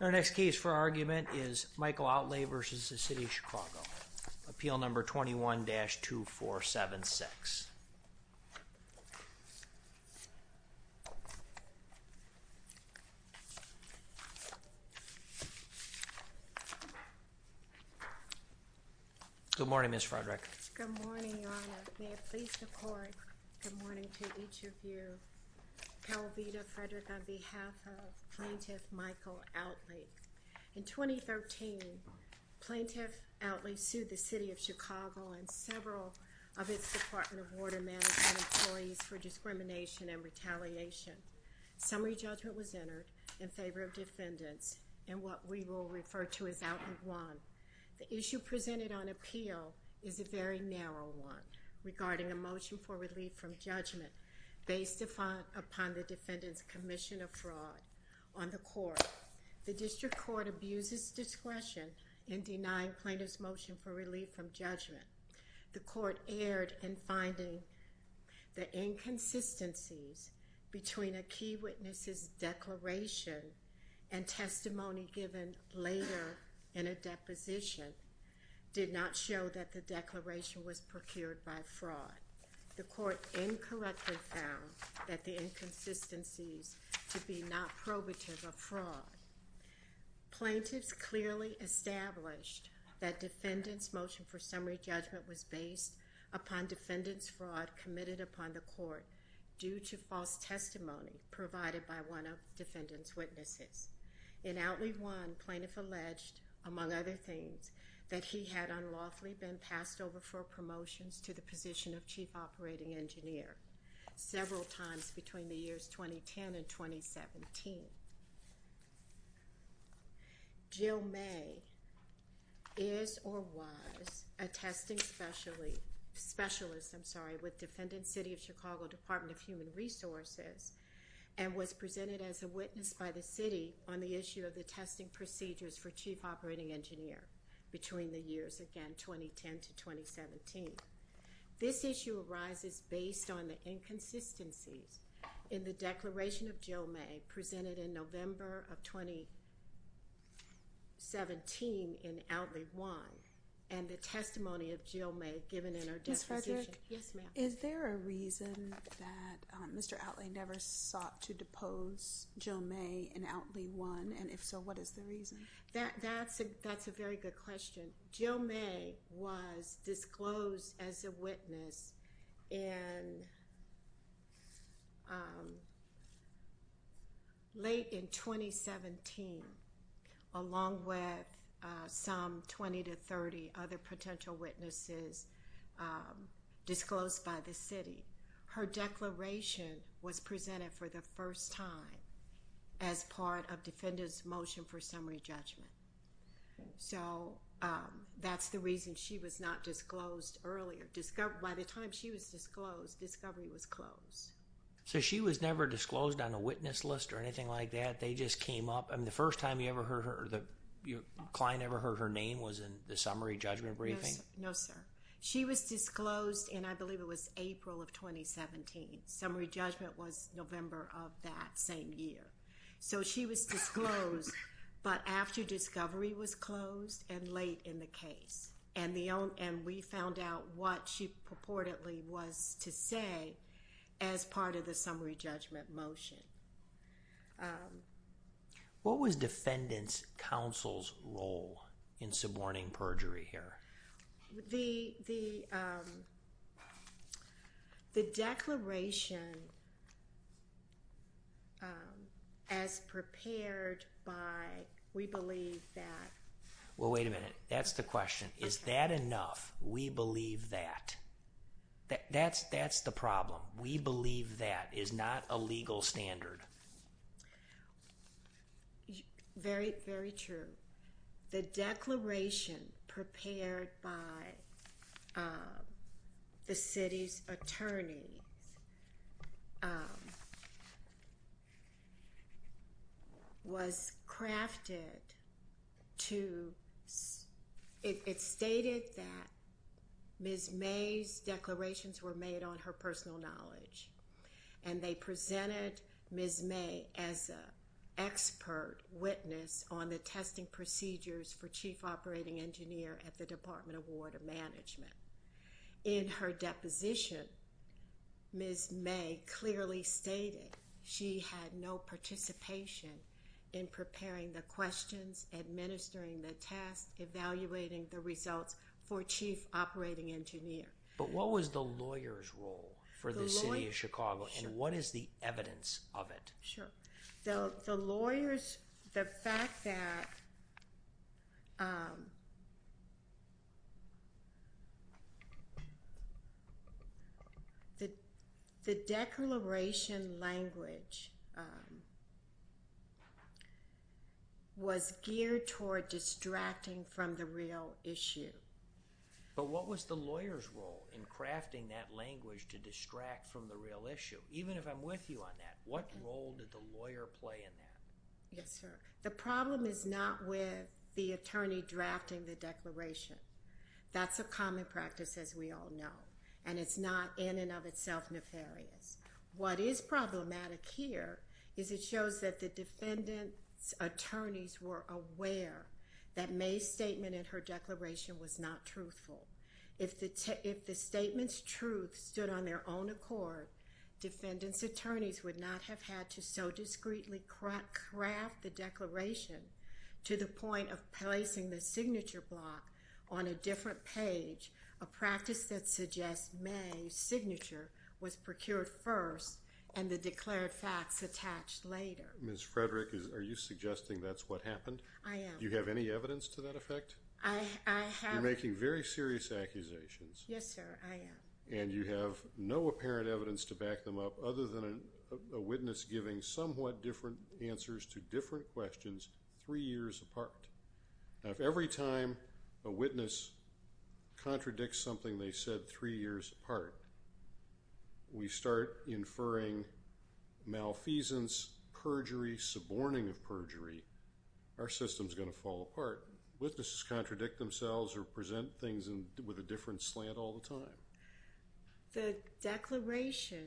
Our next case for argument is Michael Outley v. City of Chicago. Appeal number 21-2476. Good morning, Ms. Frederick. Good morning, Your Honor. May it please the Court, good morning to each of you. Appel v. Frederick on behalf of Plaintiff Michael Outley. In 2013, Plaintiff Outley sued the City of Chicago and several of its Department of Water Management employees for discrimination and retaliation. Summary judgment was entered in favor of defendants in what we will refer to as Outley 1. The issue presented on appeal is a very narrow one regarding a motion for relief from judgment based upon the defendant's commission of fraud on the court. The district court abuses discretion in denying plaintiff's motion for relief from judgment. The court erred in finding the inconsistencies between a key witness's declaration and testimony given later in a deposition did not show that the declaration was procured by fraud. The court incorrectly found that the inconsistencies to be not probative of fraud. Plaintiffs clearly established that defendant's motion for summary judgment was based upon defendant's fraud committed upon the court due to false testimony provided by one of the defendant's witnesses. In Outley 1, plaintiff alleged, among other things, that he had unlawfully been passed over for promotions to the position of chief operating engineer several times between the years 2010 and 2017. Jill May is or was a testing specialist with Defendant City of Chicago Department of Human Resources and was presented as a witness by the city on the issue of the testing procedures for chief operating engineer between the years, again, 2010 to 2017. This issue arises based on the inconsistencies in the declaration of Jill May presented in November of 2017 in Outley 1 and the testimony of Jill May given in her deposition. Ms. Frederick? Yes, ma'am. Is there a reason that Mr. Outley never sought to depose Jill May in Outley 1, and if so, what is the reason? That's a very good question. Jill May was disclosed as a witness late in 2017 along with some 20 to 30 other potential witnesses disclosed by the city. Her declaration was presented for the first time as part of defendant's motion for summary judgment. So, that's the reason she was not disclosed earlier. By the time she was disclosed, discovery was closed. So, she was never disclosed on a witness list or anything like that? They just came up? I mean, the first time you ever heard her or the client ever heard her name was in the summary judgment briefing? No, sir. She was disclosed in, I believe, it was April of 2017. Summary judgment was November of that same year. So, she was disclosed, but after discovery was closed and late in the case. And we found out what she purportedly was to say as part of the summary judgment motion. What was defendant's counsel's role in suborning perjury here? The declaration as prepared by, we believe that... Well, wait a minute. That's the question. Is that enough, we believe that? That's the problem. We believe that is not a legal standard. Very true. The declaration prepared by the city's attorney was crafted to... It stated that Ms. May's declarations were made on her personal knowledge. And they presented Ms. May as an expert witness on the testing procedures for Chief Operating Engineer at the Department of Water Management. In her deposition, Ms. May clearly stated she had no participation in preparing the questions, administering the tests, evaluating the results for Chief Operating Engineer. But what was the lawyer's role for the city of Chicago, and what is the evidence of it? Sure. The lawyers, the fact that... The declaration language was geared toward distracting from the real issue. But what was the lawyer's role in crafting that language to distract from the real issue? Even if I'm with you on that, what role did the lawyer play in that? Yes, sir. The problem is not with the attorney drafting the declaration. That's a common practice, as we all know, and it's not in and of itself nefarious. What is problematic here is it shows that the defendant's attorneys were aware that May's statement in her declaration was not truthful. If the statement's truth stood on their own accord, defendant's attorneys would not have had to so discreetly craft the declaration to the point of placing the signature block on a different page, a practice that suggests May's signature was procured first and the declared facts attached later. Ms. Frederick, are you suggesting that's what happened? I am. Do you have any evidence to that effect? I have. You're making very serious accusations. Yes, sir, I am. And you have no apparent evidence to back them up other than a witness giving somewhat different answers to different questions three years apart. Now, if every time a witness contradicts something they said three years apart, we start inferring malfeasance, perjury, suborning of perjury, our system's going to fall apart. Witnesses contradict themselves or present things with a different slant all the time. The declaration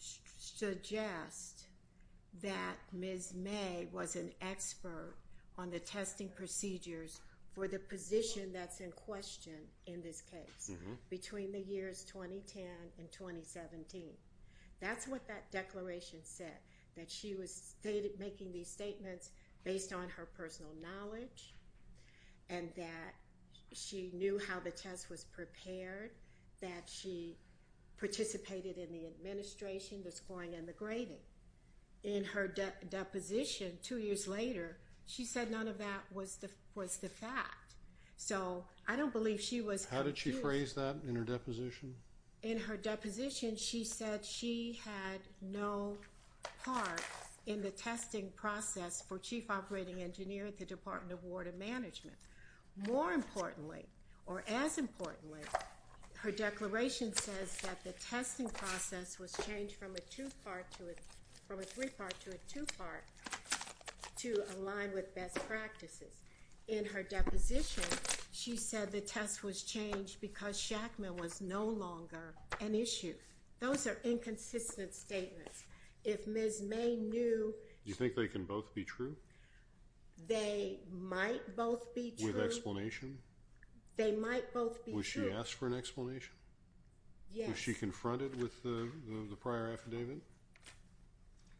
suggests that Ms. May was an expert on the testing procedures for the position that's in question in this case between the years 2010 and 2017. That's what that declaration said, that she was making these statements based on her personal knowledge and that she knew how the test was prepared, that she participated in the administration, the scoring, and the grading. In her deposition two years later, she said none of that was the fact. So I don't believe she was confused. How did she phrase that in her deposition? In her deposition, she said she had no part in the testing process for Chief Operating Engineer at the Department of Water Management. More importantly, or as importantly, her declaration says that the testing process was changed from a three-part to a two-part to align with best practices. In her deposition, she said the test was changed because Shackman was no longer an issue. Those are inconsistent statements. If Ms. May knew... Do you think they can both be true? They might both be true. With explanation? They might both be true. Was she asked for an explanation? Yes. Was she confronted with the prior affidavit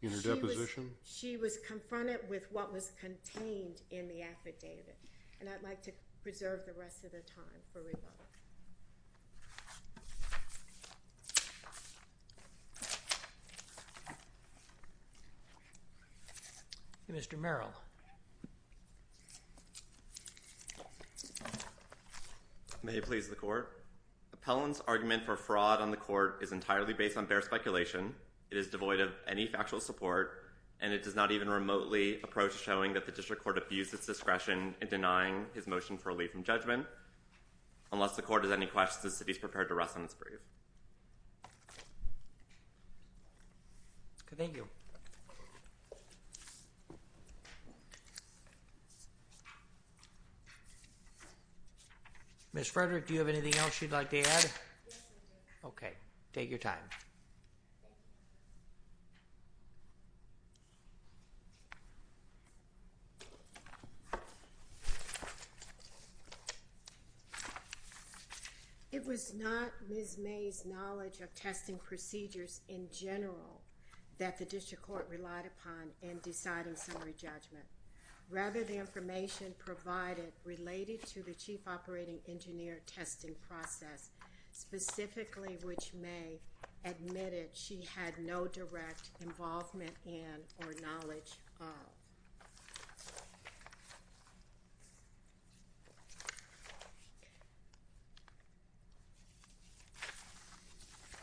in her deposition? She was confronted with what was contained in the affidavit. And I'd like to preserve the rest of the time for rebuttal. Mr. Merrill. May it please the Court? Appellant's argument for fraud on the Court is entirely based on bare speculation. It is devoid of any factual support, and it does not even remotely approach showing that the District Court abused its discretion in denying his motion for a leave from judgment. Unless the Court has any questions, the City is prepared to rest on its brief. Thank you. Ms. Frederick, do you have anything else you'd like to add? Yes, sir. Okay. Take your time. Thank you. It was not Ms. May's knowledge of testing procedures in general that the District Court relied upon in deciding summary judgment. Rather, the information provided related to the Chief Operating Engineer testing process, specifically which May admitted she had no direct involvement in or knowledge of.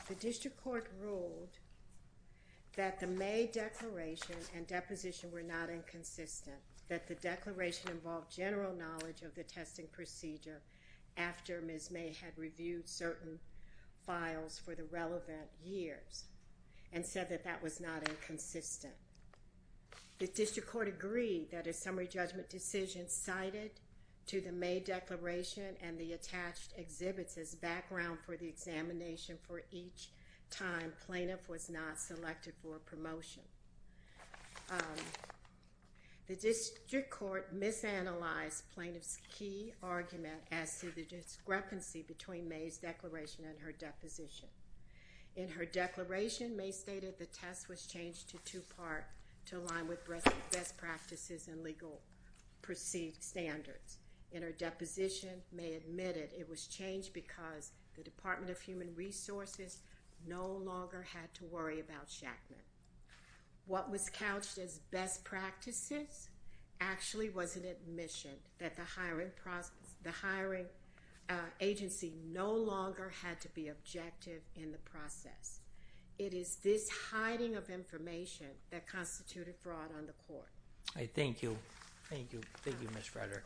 The District Court ruled that the May declaration and deposition were not inconsistent, that the declaration involved general knowledge of the testing procedure after Ms. May had reviewed certain files for the relevant years, and said that that was not inconsistent. The District Court agreed that a summary judgment decision cited to the May declaration and the attached exhibits as background for the examination for each time plaintiff was not selected for a promotion. The District Court misanalyzed plaintiff's key argument as to the discrepancy between May's declaration and her deposition. In her declaration, May stated the test was changed to two-part to align with best practices and legal perceived standards. In her deposition, May admitted it was changed because the Department of Human Resources no longer had to worry about Shackman. What was couched as best practices actually was an admission that the hiring agency no longer had to be objective in the process. It is this hiding of information that constituted fraud on the court. I thank you. Thank you. Thank you, Ms. Frederick.